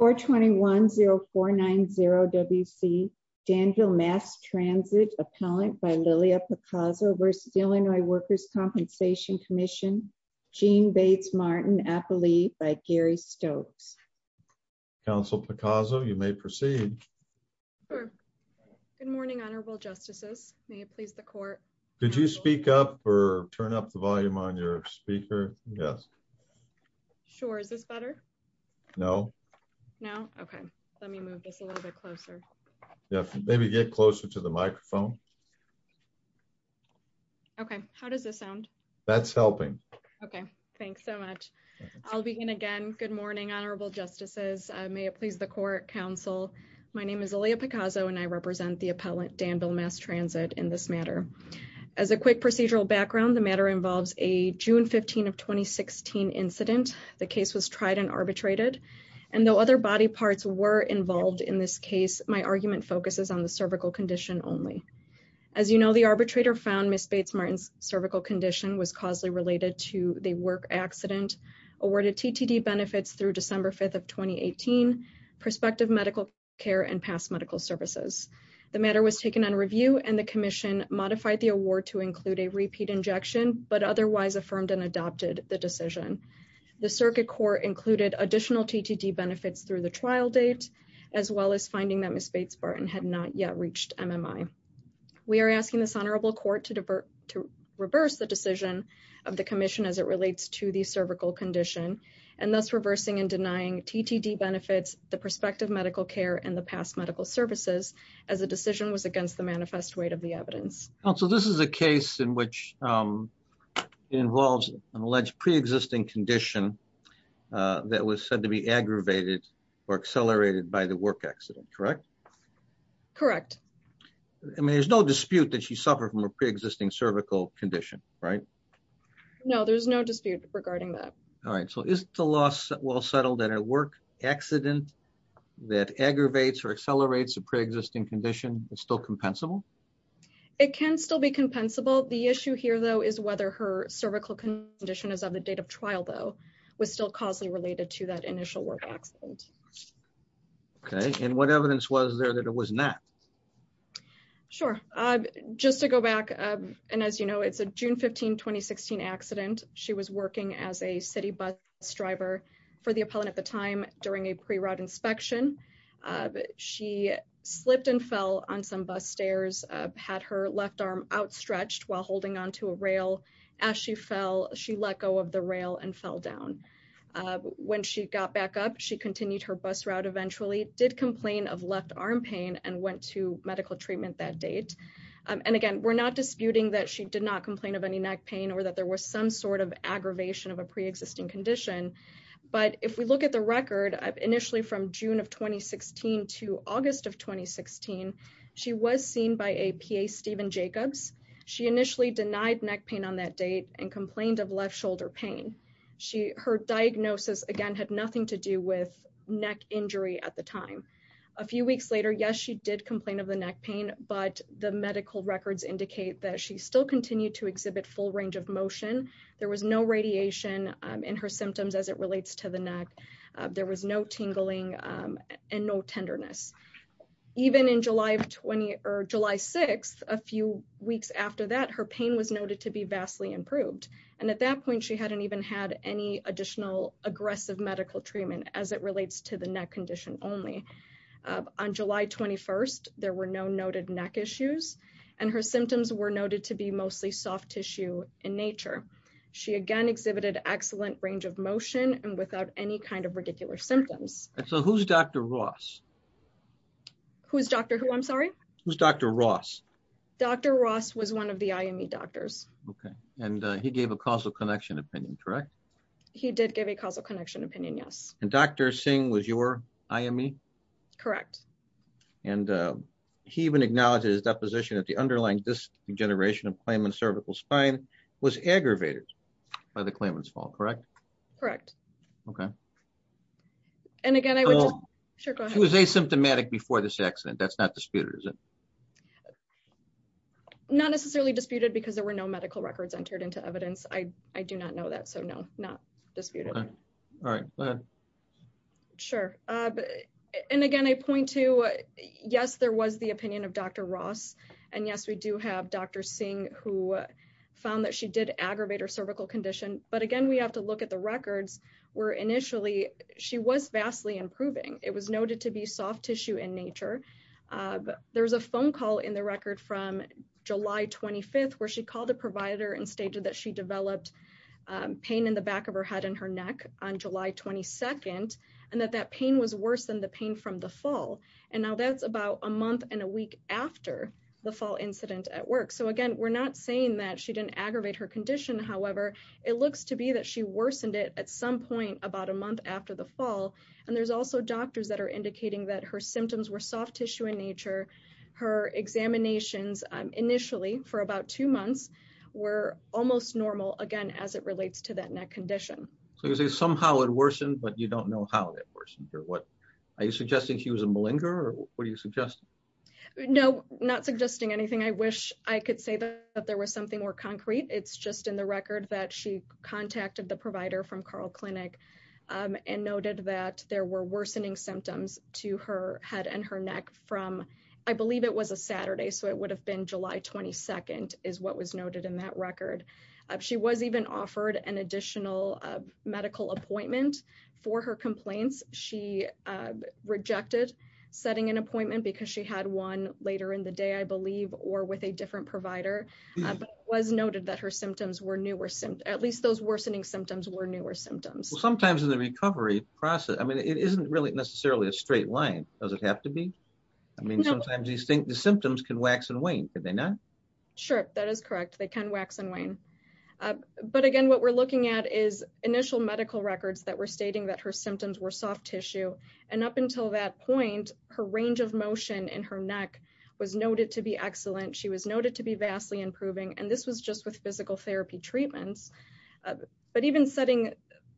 421-0490-WC Danville Mass Transit Appellant by Lilia Picazzo v. Illinois Workers' Compensation Comm'n Jean Bates Martin Appellee by Gary Stokes. Council Picazzo, you may proceed. Good morning, Honorable Justices. May it please the Court. Could you speak up or turn up the volume on your speaker? Yes. Sure. Is this better? No. No? Okay. Let me move this a little bit closer. Yeah, maybe get closer to the microphone. Okay. How does this sound? That's helping. Okay. Thanks so much. I'll begin again. Good morning, Honorable Justices. May it please the Court, Council. My name is Lilia Picazzo and I represent the Appellant Danville Mass Transit in this matter. As a quick procedural background, the matter involves a June 15 of 2016 incident. The case was tried and arbitrated. And though other body parts were involved in this case, my argument focuses on the cervical condition only. As you know, the arbitrator found Ms. Bates Martin's cervical condition was causally related to the work accident, awarded TTD benefits through December 5 of 2018, prospective medical care, and past medical services. The matter was taken on review and the Commission modified the award to include a repeat injection, but otherwise affirmed and adopted the decision. The Circuit Court included additional TTD benefits through the trial date, as well as finding that Ms. Bates Martin had not yet reached MMI. We are asking this Honorable Court to reverse the decision of the Commission as it relates to the cervical condition, and thus reversing and denying TTD benefits, the prospective medical care, and the past medical services, as the decision was against the manifest weight of the evidence. So this is a case in which it involves an alleged pre-existing condition that was said to be aggravated or accelerated by the work accident, correct? Correct. I mean, there's no dispute that she suffered from a pre-existing cervical condition, right? No, there's no dispute regarding that. All right. So is the loss well settled that a work accident that aggravates or accelerates a pre-existing condition is still compensable? It can still be compensable. The issue here, though, is whether her cervical condition as of the date of trial, though, was still causally related to that initial work accident. Okay. And what evidence was there that it was not? Sure. Just to go back, and as you know, it's a June 15, 2016 accident. She was working as a city bus driver for the appellant at the time during a pre-ride inspection. She slipped and had her left arm outstretched while holding onto a rail. As she fell, she let go of the rail and fell down. When she got back up, she continued her bus route eventually, did complain of left arm pain, and went to medical treatment that date. And again, we're not disputing that she did not complain of any neck pain or that there was some sort of aggravation of a pre-existing condition. But if we look at the record, initially from June of 2016 to August of 2016, she was seen by a PA, Steven Jacobs. She initially denied neck pain on that date and complained of left shoulder pain. Her diagnosis, again, had nothing to do with neck injury at the time. A few weeks later, yes, she did complain of the neck pain, but the medical records indicate that she still continued to exhibit full range of motion. There was no radiation in her symptoms as it relates to the neck. There was no tingling and no tenderness. Even on July 6th, a few weeks after that, her pain was noted to be vastly improved. And at that point, she hadn't even had any additional aggressive medical treatment as it relates to the neck condition only. On July 21st, there were no noted neck issues, and her symptoms were noted to be mostly soft in nature. She again exhibited excellent range of motion and without any kind of ridiculous symptoms. So who's Dr. Ross? Who's Dr. who, I'm sorry? Who's Dr. Ross? Dr. Ross was one of the IME doctors. Okay, and he gave a causal connection opinion, correct? He did give a causal connection opinion, yes. And Dr. Singh was your IME? Correct. And he even acknowledged his deposition of the underlying disc degeneration of Klaman's cervical spine was aggravated by the Klaman's fall, correct? Correct. Okay. And again, I was asymptomatic before this accident. That's not disputed, is it? Not necessarily disputed because there were no medical records entered into evidence. I do not know that. So no, not disputed. All right. Sure. And again, I point to, yes, there was the opinion of Dr. Ross. And yes, we do have Dr. Singh who found that she did aggravate her cervical condition. But again, we have to look at the records where initially she was vastly improving. It was noted to be soft tissue in nature. There's a phone call in the record from July 25th where she called the provider and stated that she developed pain in the back of her head and her neck on July 22nd, and that that pain was worse than the pain from the fall. And now that's about a month and a week after the fall incident at work. So again, we're not saying that she didn't aggravate her condition. However, it looks to be that she worsened it at some point about a month after the fall. And there's also doctors that are indicating that her symptoms were soft tissue in nature. Her examinations initially for about two months were almost normal, again, as it relates to that neck condition. So you're saying somehow it worsened, but you don't know how it worsened or what. Are you suggesting she was a malinger, or what are you suggesting? No, not suggesting anything. I wish I could say that there was something more concrete. It's just in the record that she contacted the provider from Carl Clinic and noted that there were worsening symptoms to her head and her neck from, I believe it was a Saturday, so it would have been July 22nd, is what was noted in that record. She was even offered an additional medical appointment for her complaints. She rejected setting an appointment because she had one later in the day, I believe, or with a different provider. But it was noted that her symptoms were newer, at least those worsening symptoms were newer symptoms. Well, sometimes in the recovery process, I mean, it isn't really necessarily a straight line. Does it have to be? I mean, sometimes you think the symptoms can wax and wane. Could they not? Sure, that is correct. They can wax and wane. But again, what we're looking at is initial medical records that were stating that her symptoms were soft tissue. And up until that point, her range of motion in her neck was noted to be excellent. She was noted to be vastly improving. And this was just with physical therapy treatments. But even setting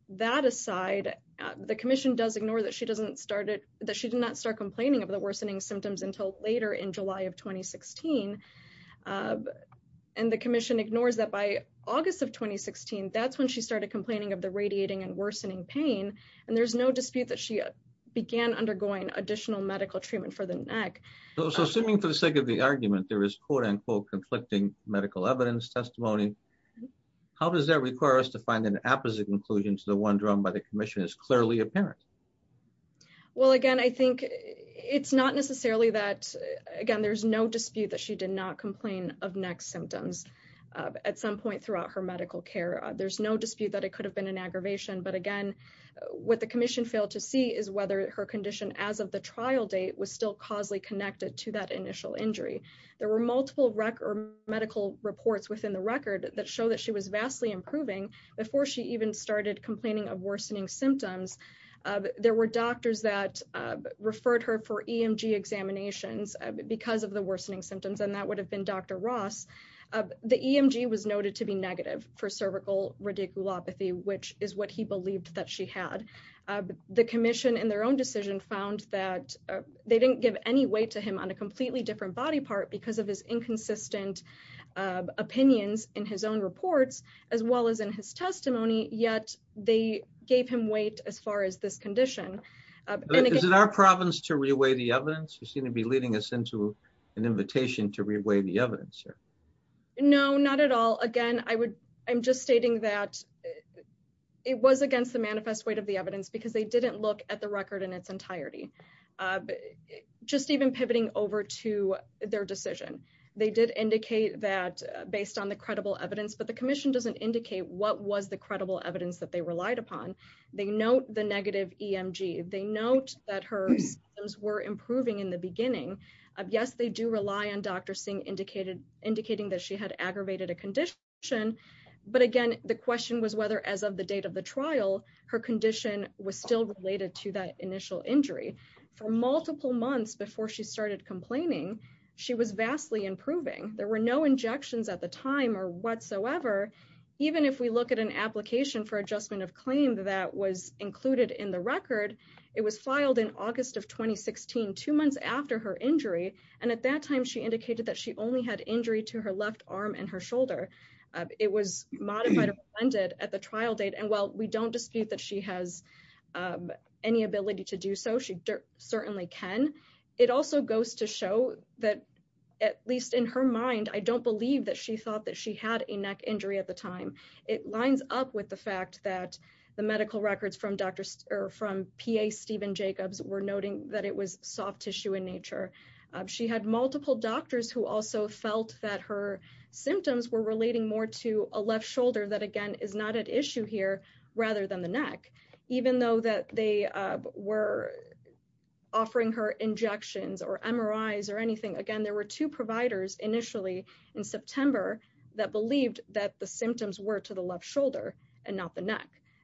that aside, the commission does ignore that she did not start complaining of the worsening symptoms until later in July of 2016. And the commission ignores that by August of 2016, that's when she started complaining of the radiating and worsening pain. And there's no dispute that she began undergoing additional medical treatment for the neck. So assuming for the sake of the argument, there is quote unquote, conflicting medical evidence testimony. How does that require us to find an opposite conclusion to the one drawn by the commission is clearly apparent? Well, again, I think it's not necessarily that, again, there's no dispute that she did not There's no dispute that it could have been an aggravation. But again, what the commission failed to see is whether her condition as of the trial date was still causally connected to that initial injury. There were multiple record medical reports within the record that show that she was vastly improving before she even started complaining of worsening symptoms. There were doctors that referred her for EMG examinations because of the worsening radiculopathy, which is what he believed that she had. The commission in their own decision found that they didn't give any weight to him on a completely different body part because of his inconsistent opinions in his own reports, as well as in his testimony, yet they gave him weight as far as this condition. Is it our province to reweigh the evidence? You seem to be leading us an invitation to reweigh the evidence here. No, not at all. Again, I'm just stating that it was against the manifest weight of the evidence because they didn't look at the record in its entirety. Just even pivoting over to their decision, they did indicate that based on the credible evidence, but the commission doesn't indicate what was the credible evidence that they relied upon. They note the negative EMG. They note that her symptoms were improving in the beginning of, yes, they do rely on Dr. Singh indicating that she had aggravated a condition, but again, the question was whether as of the date of the trial, her condition was still related to that initial injury. For multiple months before she started complaining, she was vastly improving. There were no injections at the time or whatsoever. Even if we look at an application for adjustment of claim that was included in the record, it was filed in August of 2016, two months after her injury, and at that time, she indicated that she only had injury to her left arm and her shoulder. It was modified or blended at the trial date, and while we don't dispute that she has any ability to do so, she certainly can, it also goes to show that at least in her mind, I don't believe that she thought that she had a neck injury at the time. It lines up with the fact that the medical records from PA Steven Jacobs were noting that it was soft tissue in nature. She had multiple doctors who also felt that her symptoms were relating more to a left shoulder that, again, is not at issue here rather than the neck, even though that they were offering her injections or MRIs or anything. Again, there were two providers initially in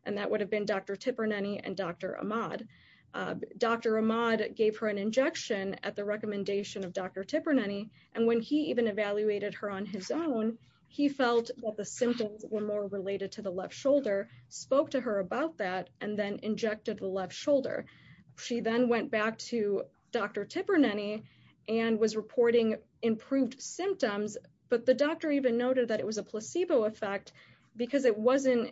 and that would have been Dr. Tipernany and Dr. Ahmad. Dr. Ahmad gave her an injection at the recommendation of Dr. Tipernany, and when he even evaluated her on his own, he felt that the symptoms were more related to the left shoulder, spoke to her about that, and then injected the left shoulder. She then went back to Dr. Tipernany and was reporting improved symptoms, but the doctor even noted that it was a placebo effect because it wasn't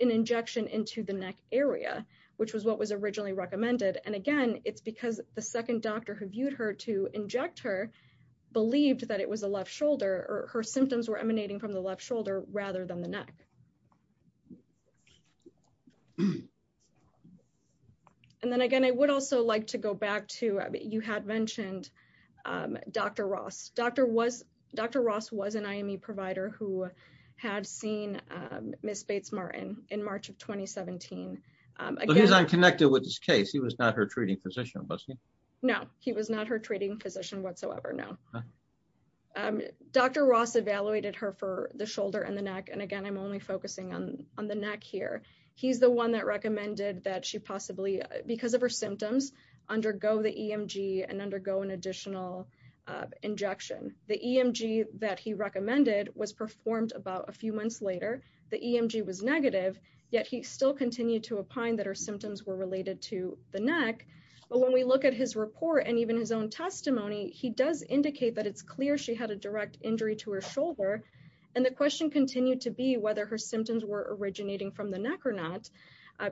an injection into the neck area, which was what was originally recommended, and again, it's because the second doctor who viewed her to inject her believed that it was a left shoulder or her symptoms were emanating from the left shoulder rather than the neck. And then again, I would also like to go back to, you had mentioned Dr. Ross. Dr. Ross was an IME provider who had seen Ms. Bates-Martin in March of 2017. He's unconnected with this case. He was not her treating physician, was he? No, he was not her treating physician whatsoever, no. Dr. Ross evaluated her for the shoulder and the neck, and again, I'm only focusing on the neck here. He's the one that recommended that she possibly, because of her symptoms, undergo the EMG and undergo an additional injection. The EMG that he recommended was performed about a few months later. The EMG was negative, yet he still continued to opine that her symptoms were related to the neck, but when we look at his report and even his own testimony, he does indicate that it's clear she had a direct injury to her shoulder, and the question continued to be whether her symptoms were originating from the neck or not.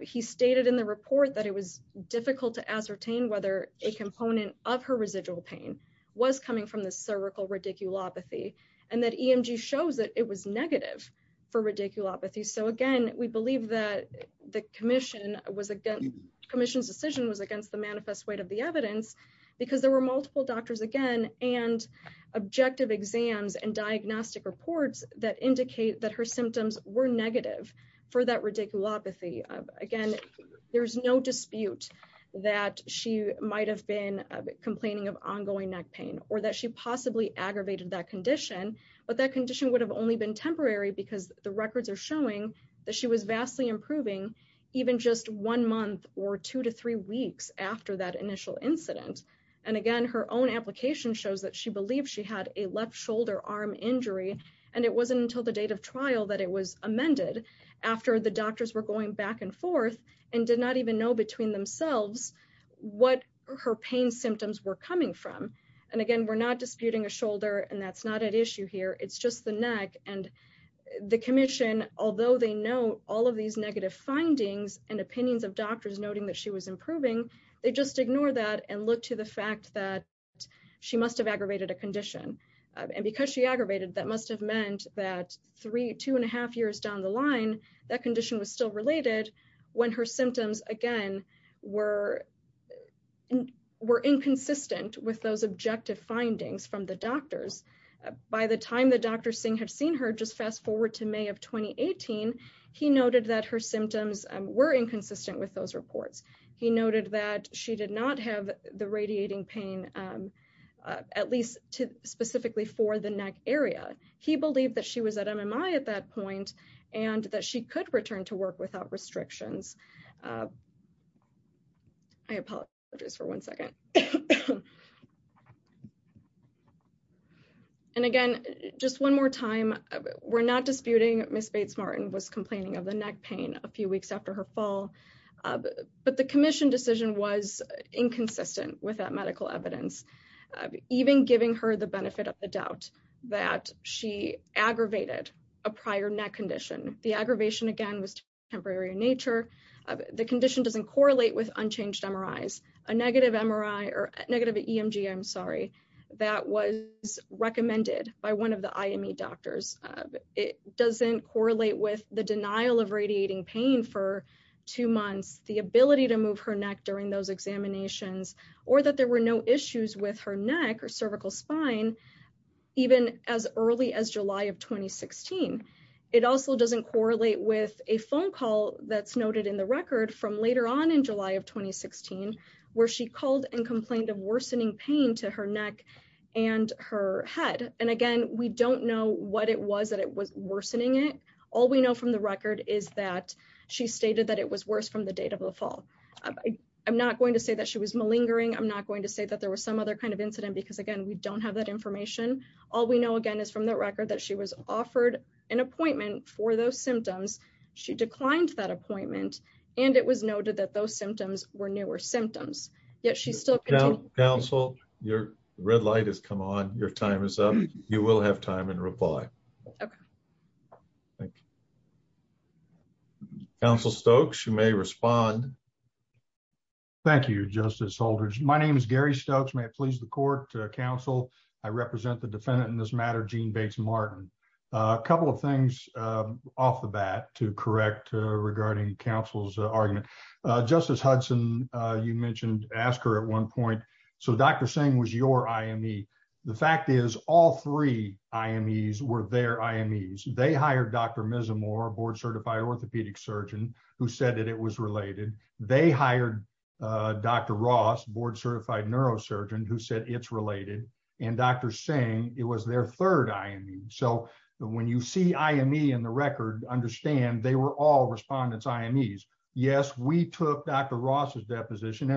He stated in the report that it was difficult to ascertain whether a component of her residual pain was coming from the cervical radiculopathy, and that EMG shows that it was negative for radiculopathy. So again, we believe that the commission's decision was against the manifest weight of the evidence, because there were multiple doctors, again, and objective exams and diagnostic reports that indicate that her symptoms were negative for that radiculopathy. Again, there's no dispute that she might have been complaining of ongoing neck pain or that she possibly aggravated that condition, but that condition would have only been temporary because the records are showing that she was vastly improving even just one month or two to three weeks after that initial incident, and again, her own application shows that she believed she had a shoulder arm injury, and it wasn't until the date of trial that it was amended after the doctors were going back and forth and did not even know between themselves what her pain symptoms were coming from, and again, we're not disputing a shoulder, and that's not at issue here. It's just the neck, and the commission, although they know all of these negative findings and opinions of doctors noting that she was improving, they just ignore that and look to the fact that she must have aggravated a condition, and because she aggravated, that must have meant that three, two and a half years down the line, that condition was still related when her symptoms, again, were inconsistent with those objective findings from the doctors. By the time that Dr. Singh had seen her, just fast forward to May of 2018, he noted that her symptoms were inconsistent with those at least specifically for the neck area. He believed that she was at MMI at that point and that she could return to work without restrictions. I apologize for one second. And again, just one more time, we're not disputing Ms. Bates-Martin was complaining of the neck pain a few weeks after her fall, but the commission decision was inconsistent with that medical evidence, even giving her the benefit of the doubt that she aggravated a prior neck condition. The aggravation, again, was temporary in nature. The condition doesn't correlate with unchanged MRIs. A negative MRI or negative EMG, I'm sorry, that was recommended by one of the IME doctors, it doesn't correlate with the denial of radiating pain for two months. The ability to move her neck during those examinations or that there were no issues with her neck or cervical spine, even as early as July of 2016. It also doesn't correlate with a phone call that's noted in the record from later on in July of 2016, where she called and complained of worsening pain to her neck and her head. And again, we don't know what it was that was worsening it. All we I'm not going to say that she was malingering. I'm not going to say that there was some other kind of incident, because again, we don't have that information. All we know, again, is from the record that she was offered an appointment for those symptoms. She declined that appointment, and it was noted that those symptoms were newer symptoms, yet she's still counsel. Your red light has come on. Your time is up. You will have time and reply. Okay. Thank you. Counsel Stokes, you may respond. Thank you, Justice Holdridge. My name is Gary Stokes. May it please the court, counsel. I represent the defendant in this matter, Jean Bates Martin. A couple of things off the bat to correct regarding counsel's argument. Justice Hudson, you mentioned asked her at one point, so Dr. Singh was your IME. The fact is all three IMEs were their IMEs. They hired Dr. Mizzamore, a board-certified orthopedic surgeon, who said that it was related. They hired Dr. Ross, board-certified neurosurgeon, who said it's related. And Dr. Singh, it was their third IME. So when you see IME in the record, understand they were all for Dr. Ross's deposition,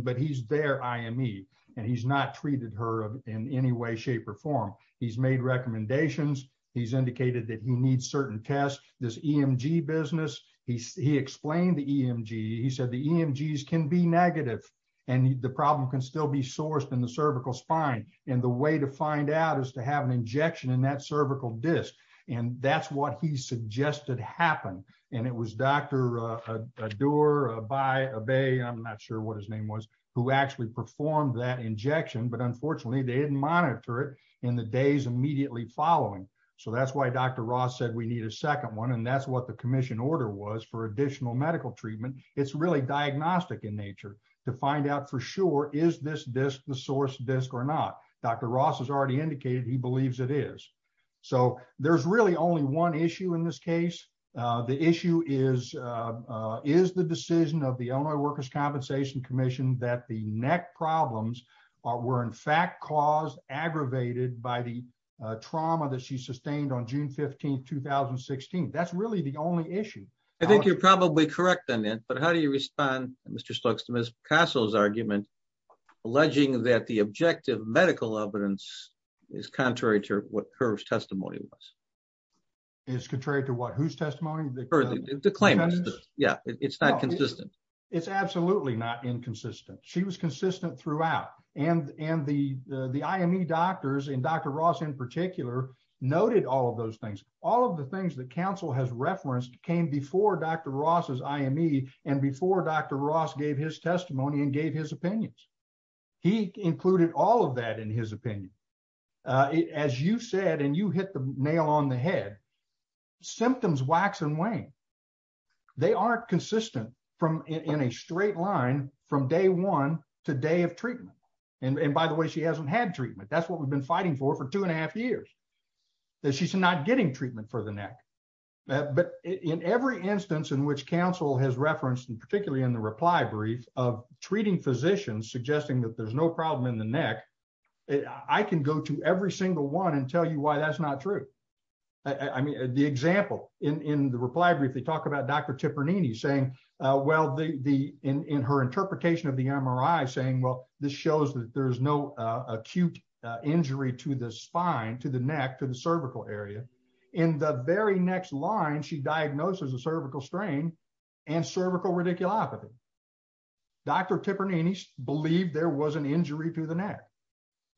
but he's their IME, and he's not treated her in any way, shape, or form. He's made recommendations. He's indicated that he needs certain tests. This EMG business, he explained the EMG. He said the EMGs can be negative, and the problem can still be sourced in the cervical spine. And the way to find out is to have an injection in that I'm not sure what his name was, who actually performed that injection, but unfortunately, they didn't monitor it in the days immediately following. So that's why Dr. Ross said we need a second one, and that's what the commission order was for additional medical treatment. It's really diagnostic in nature to find out for sure, is this disc the source disc or not? Dr. Ross has already indicated he believes it is. So there's really only one issue in this case. The issue is, is the decision of the Illinois Workers' Compensation Commission that the neck problems were in fact caused, aggravated by the trauma that she sustained on June 15, 2016. That's really the only issue. I think you're probably correct on it, but how do you respond, Mr. Stokes, to Ms. Picasso's argument, alleging that the objective medical evidence is contrary to what her testimony was? It's contrary to what? Whose testimony? The claimant's. Yeah, it's not consistent. It's absolutely not inconsistent. She was consistent throughout. And the IME doctors, and Dr. Ross in particular, noted all of those things. All of the things that counsel has referenced came before Dr. Ross's IME and before Dr. Ross gave his testimony and gave his opinions. He included all of that in his opinion. As you said, and you hit the nail on the head, symptoms wax and wane. They aren't consistent in a straight line from day one to day of treatment. And by the way, she hasn't had treatment. That's what we've been fighting for for two and a half years, that she's not getting treatment for the neck. But in every instance in which counsel has referenced, and particularly in the reply brief, of treating physicians suggesting that there's no problem in the neck, I can go to every single one and tell you why that's not true. I mean, the example in the reply brief, they talk about Dr. Tepernini saying, well, in her interpretation of the MRI saying, well, this shows that there's no acute injury to the spine, to the neck, to the cervical area. In the very next line, she diagnoses a cervical strain and cervical radiculopathy. Dr. Tepernini believed there was an injury to the neck.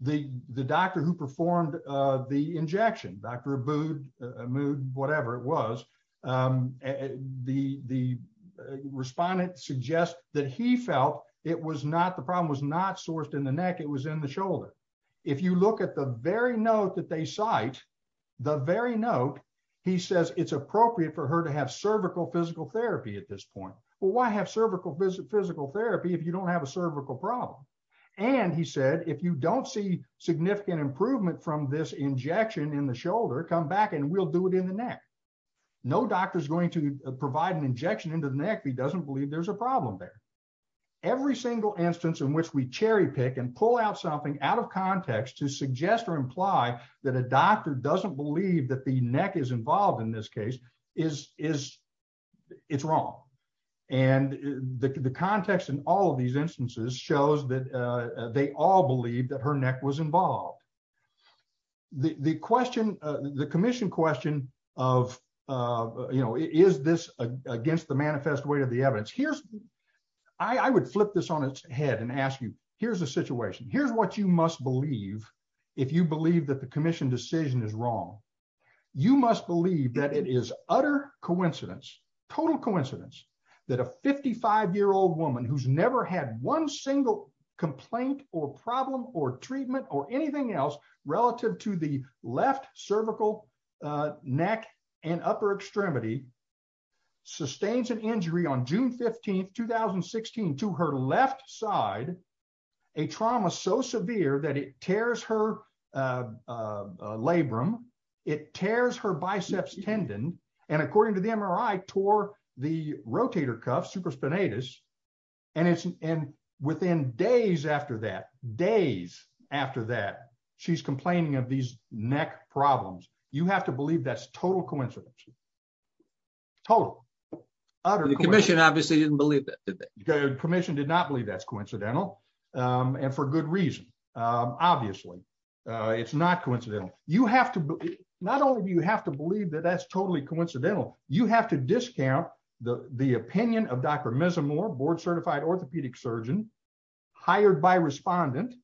The doctor who performed the injection, Dr. Abood, whatever it was, the respondent suggests that he felt the problem was not sourced in the neck, it was in the shoulder. If you look at the very note that they cite, the very note, he says it's appropriate for her to have cervical physical therapy at this point. Well, why have cervical physical therapy if you don't have a cervical problem? And he said, if you don't see significant improvement from this injection in the shoulder, come back and we'll do it in the neck. No doctor's going to provide an injection into the neck if he doesn't believe there's a problem there. Every single instance in which we cherry pick and pull out something out of context to suggest or imply that a doctor doesn't believe that the neck is wrong. And the context in all of these instances shows that they all believe that her neck was involved. The question, the commission question of, you know, is this against the manifest way of the evidence? Here's, I would flip this on its head and ask you, here's the situation. Here's what you must believe if you believe that the commission decision is wrong. You must believe that it is utter coincidence, total coincidence that a 55 year old woman who's never had one single complaint or problem or treatment or anything else relative to the left cervical neck and upper extremity sustains an injury on June 15th, 2016 to her left side, a trauma so severe that it tears her labrum. It tears her biceps tendon. And according to the MRI tore the rotator cuff supraspinatus. And it's within days after that, days after that, she's complaining of these neck problems. You have to believe that's total coincidence. Total. The commission obviously didn't believe that. The commission did not believe that's and for good reason. Obviously it's not coincidental. You have to, not only do you have to believe that that's totally coincidental, you have to discount the opinion of Dr. Mizzamore board certified orthopedic surgeon hired by respondent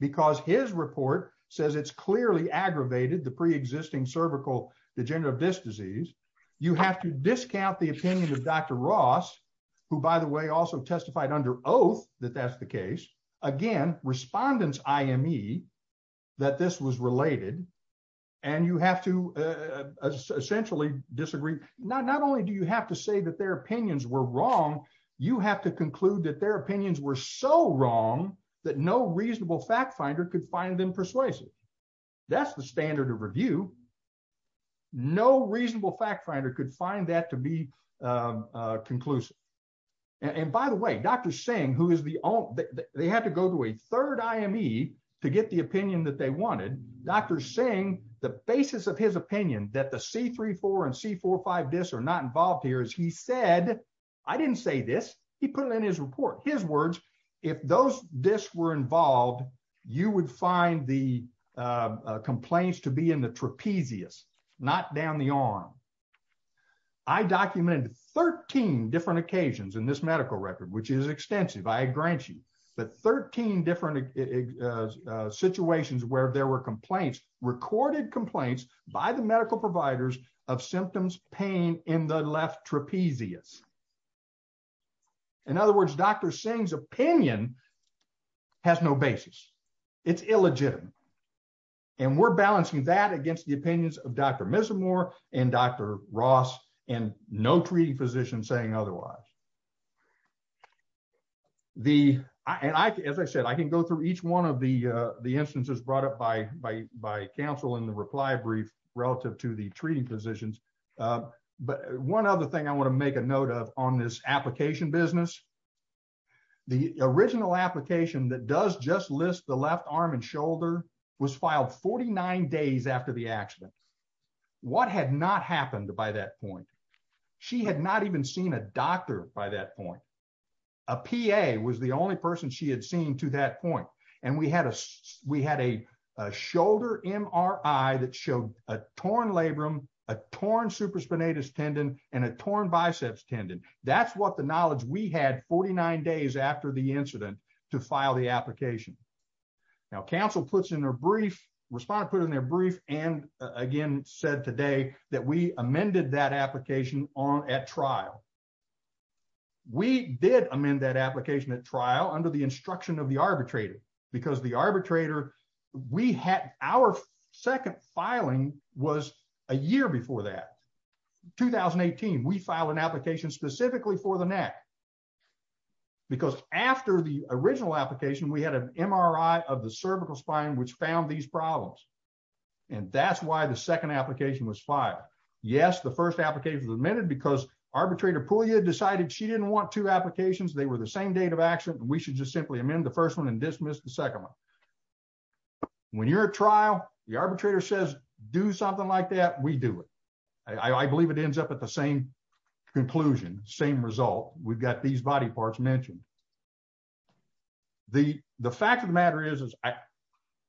because his report says it's clearly aggravated the preexisting cervical degenerative disc disease. You have to discount the opinion of Dr. Ross, who by the way, also testified under oath that that's the case. Again, respondents IME that this was related and you have to essentially disagree. Not only do you have to say that their opinions were wrong, you have to conclude that their opinions were so wrong that no reasonable fact finder could find them persuasive. That's the standard of review. No reasonable fact finder could find that to be conclusive. And by the way, Dr. Singh, who is the, they had to go to a third IME to get the opinion that they wanted. Dr. Singh, the basis of his opinion that the C3-4 and C4-5 discs are not involved here is he said, I didn't say this. He put it in his report. His words, if those discs were involved, you would find the complaints to be in the trapezius, not down the arm. I documented 13 different occasions in this medical record, which is extensive. I grant you that 13 different situations where there were complaints, recorded complaints by the medical providers of symptoms, pain in the left trapezius. In other words, Dr. Singh's opinion has no basis. It's illegitimate. And we're balancing that against the opinions of Dr. Missimore and Dr. Ross and no treating physician saying otherwise. The, and I, as I said, I can go through each one of the instances brought up by counsel in the reply brief relative to the treating physicians. But one other thing I want to make a note of on this application business, the original application that does just list the left arm and shoulder was filed 49 days after the accident. What had not happened by that point, she had not even seen a doctor by that point. A PA was the only person she had seen to that point. And we had a, we had a shoulder MRI that showed a torn labrum, a torn supraspinatus tendon, and a torn biceps tendon. That's what the knowledge we had 49 days after the incident to file the application. Now, counsel puts in their brief, respondent put in their brief, and again, said today that we amended that application on at trial. We did amend that application at trial under the instruction of the arbitrator, because the arbitrator, we had our second filing was a year before that. 2018, we filed an application specifically for the neck, because after the original application, we had an MRI of the cervical spine, which found these problems. And that's why the second application was filed. Yes, the first application was amended because arbitrator Puglia decided she didn't want two applications. They were the same date of accident. We should just simply amend the first one and dismiss the second one. When you're a trial, the arbitrator says, do something like that. We do it. I believe it ends up at the same conclusion, same result. We've got these body parts mentioned. The fact of the matter is,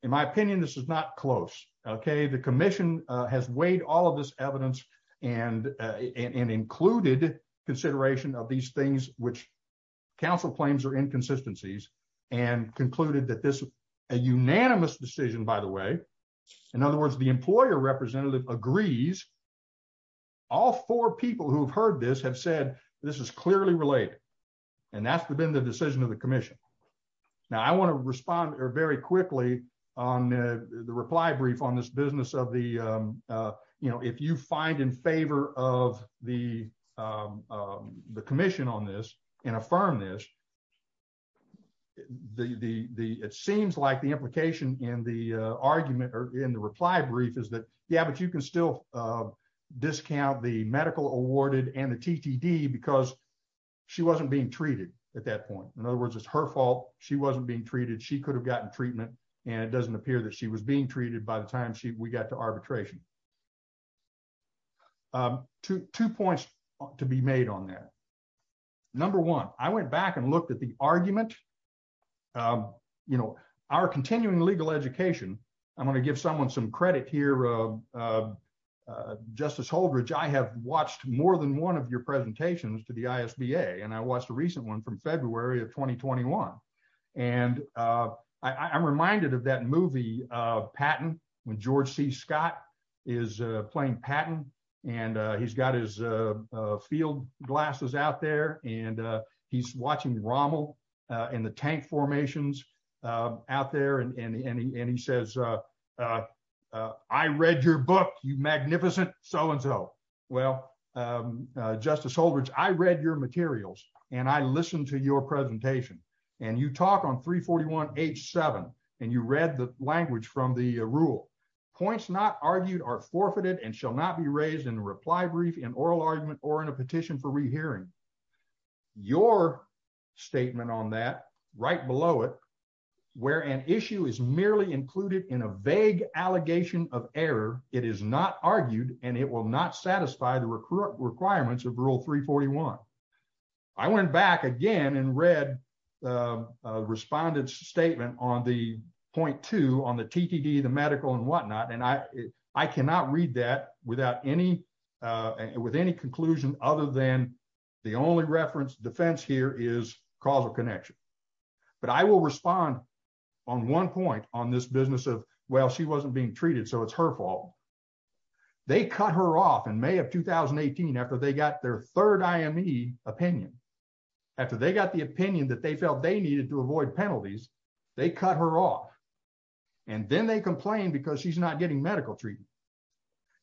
in my opinion, this is not close. The commission has weighed all of this evidence and included consideration of these things, which counsel claims are inconsistencies, and concluded that this a unanimous decision, by the way. In other words, the employer representative agrees. All four people who've heard this have said, this is clearly related. And that's been the decision of the commission. Now, I want to respond very quickly on the reply brief on this business of if you find in favor of the commission on this and affirm this, it seems like the in the argument or in the reply brief is that, yeah, but you can still discount the medical awarded and the TTD because she wasn't being treated at that point. In other words, it's her fault. She wasn't being treated. She could have gotten treatment. And it doesn't appear that she was being treated by the time we got to arbitration. Two points to be made on that. Number one, I went back and looked at the argument. You know, our continuing legal education, I'm going to give someone some credit here. Justice Holdridge, I have watched more than one of your presentations to the ISBA. And I watched a recent one from February of 2021. And I'm reminded of that movie, Patton, when George C. Scott is playing Patton, and he's got his field glasses out there. And he's watching Rommel in the tank formations out there. And he says, I read your book, you magnificent so and so. Well, Justice Holdridge, I read your materials, and I listened to your presentation. And you talk on 341.87. And you read the language from the rule, points not argued are forfeited and shall not be raised in the reply brief in oral argument or in a petition for rehearing your statement on that right below it, where an issue is merely included in a vague allegation of error, it is not argued and it will not satisfy the requirements of rule 341. I went back again and read the respondents statement on the point two on the TTD, the medical and whatnot. And I cannot read that without any with any conclusion other than the only reference defense here is causal connection. But I will respond on one point on this business of well, she wasn't being treated. So it's her fault. They cut her off in May of 2018. After they got their third IME opinion. After they got the opinion that they felt they and then they complain because she's not getting medical treatment.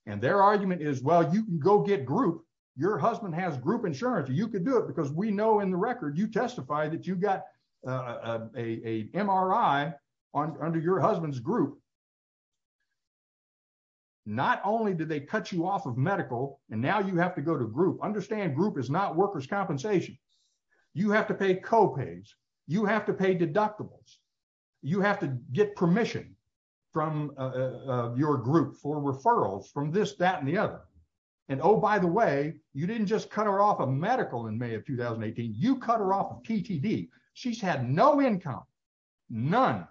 And their argument is, well, you can go get group, your husband has group insurance, you could do it because we know in the record, you testify that you got a MRI on under your husband's group. Not only did they cut you off of medical, and now you have to go to group understand group is not workers compensation. You have to pay co pays, you have to pay deductibles, you have to get permission from your group for referrals from this, that and the other. And oh, by the way, you didn't just cut her off of medical in May of 2018. You cut her off of TTD. She's had no income, none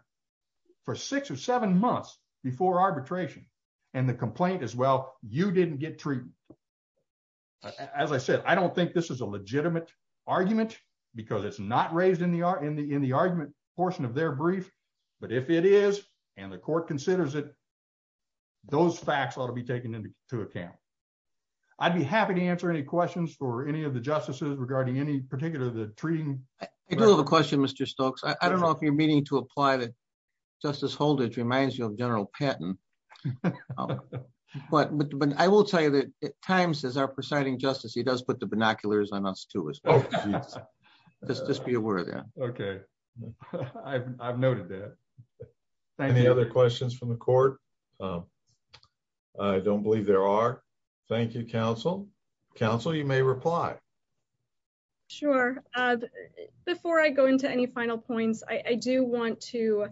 for six or seven months before arbitration. And the complaint as well, you didn't get treatment. As I said, I don't think this is a legitimate argument, because it's not raised in the in the argument portion of their brief. But if it is, and the court considers it, those facts ought to be taken into account. I'd be happy to answer any questions for any of the justices regarding any particular the treating. I do have a question, Mr. Stokes. I don't know if you're meaning to apply the justice holdage reminds you of General Patton. But I will tell you that at times as our presiding justice, he does put the binoculars on us to as well. Just just be aware of that. Okay. I've noted that. Thank you. Any other questions from the court? I don't believe there are. Thank you, counsel. Council, you may reply. Sure. Before I go into any final points, I do want to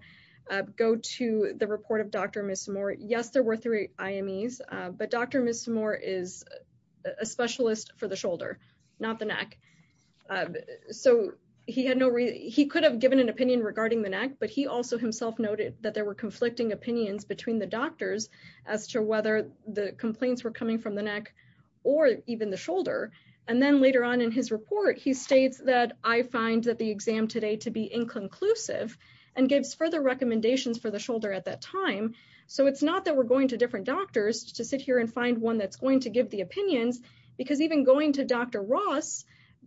go to the report of Dr. Miss more. Yes, we're three IMEs. But Dr. Miss more is a specialist for the shoulder, not the neck. So he had no he could have given an opinion regarding the neck. But he also himself noted that there were conflicting opinions between the doctors as to whether the complaints were coming from the neck, or even the shoulder. And then later on in his report, he states that I find that the exam today to be inconclusive, and gives further recommendations for the shoulder at that time. So it's not that we're going to different doctors to sit here and find one that's going to give the opinions. Because even going to Dr. Ross,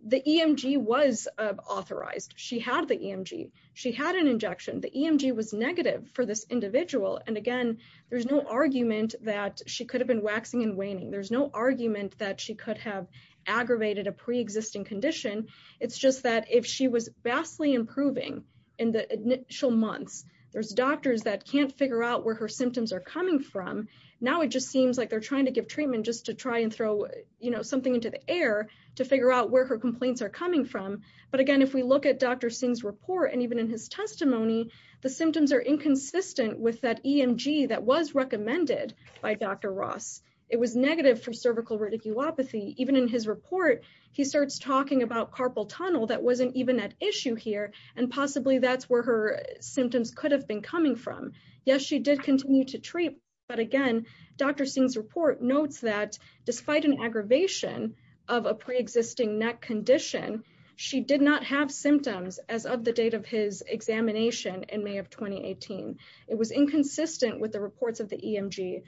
the EMG was authorized, she had the EMG, she had an injection, the EMG was negative for this individual. And again, there's no argument that she could have been waxing and waning. There's no argument that she could have aggravated a pre existing condition. It's just that if she was vastly improving in the initial months, there's doctors that can't figure out where her symptoms are coming from. Now it just seems like they're trying to give treatment just to try and throw, you know, something into the air to figure out where her complaints are coming from. But again, if we look at Dr. Singh's report, and even in his testimony, the symptoms are inconsistent with that EMG that was recommended by Dr. Ross, it was negative for cervical radiculopathy. Even in his report, he starts talking about carpal tunnel that wasn't even at issue here. And possibly that's where her symptoms could have been coming from. Yes, she did continue to treat. But again, Dr. Singh's report notes that despite an aggravation of a pre existing neck condition, she did not have symptoms as of the date of his examination in May of 2018. It was inconsistent with the reports of the EMG.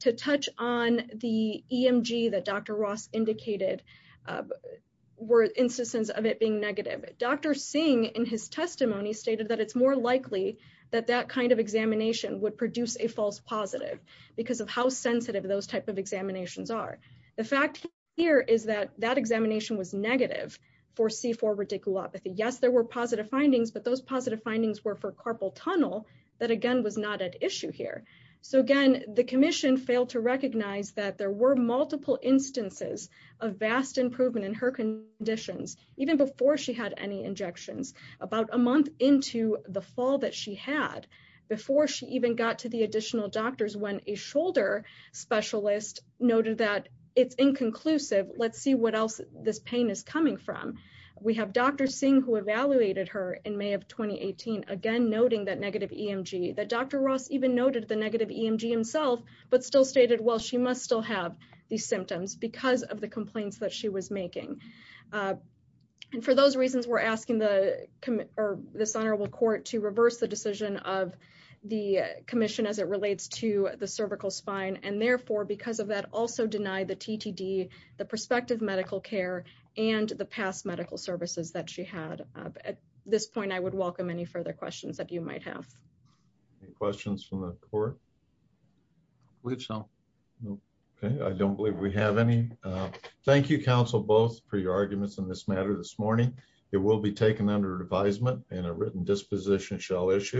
To touch on the EMG that Dr. Ross indicated, were instances of it being negative. Dr. Singh in his testimony stated that it's more likely that that kind of examination would produce a false positive because of how sensitive those type of examinations are. The fact here is that that examination was negative for C4 radiculopathy. Yes, there were positive findings, but those failed to recognize that there were multiple instances of vast improvement in her conditions, even before she had any injections, about a month into the fall that she had, before she even got to the additional doctors when a shoulder specialist noted that it's inconclusive. Let's see what else this pain is coming from. We have Dr. Singh who evaluated her in May of 2018. Again, noting that negative EMG, that Dr. Ross even noted the negative EMG himself, but still stated, well, she must still have these symptoms because of the complaints that she was making. For those reasons, we're asking this honorable court to reverse the decision of the commission as it relates to the cervical spine. Therefore, because of that, also deny the TTD, the prospective medical care, and the past medical services that she had. At this point, I would welcome any further questions that you might have. Any questions from the court? I don't believe we have any. Thank you, counsel, both for your arguments on this matter this morning. It will be taken under advisement and a written disposition shall issue.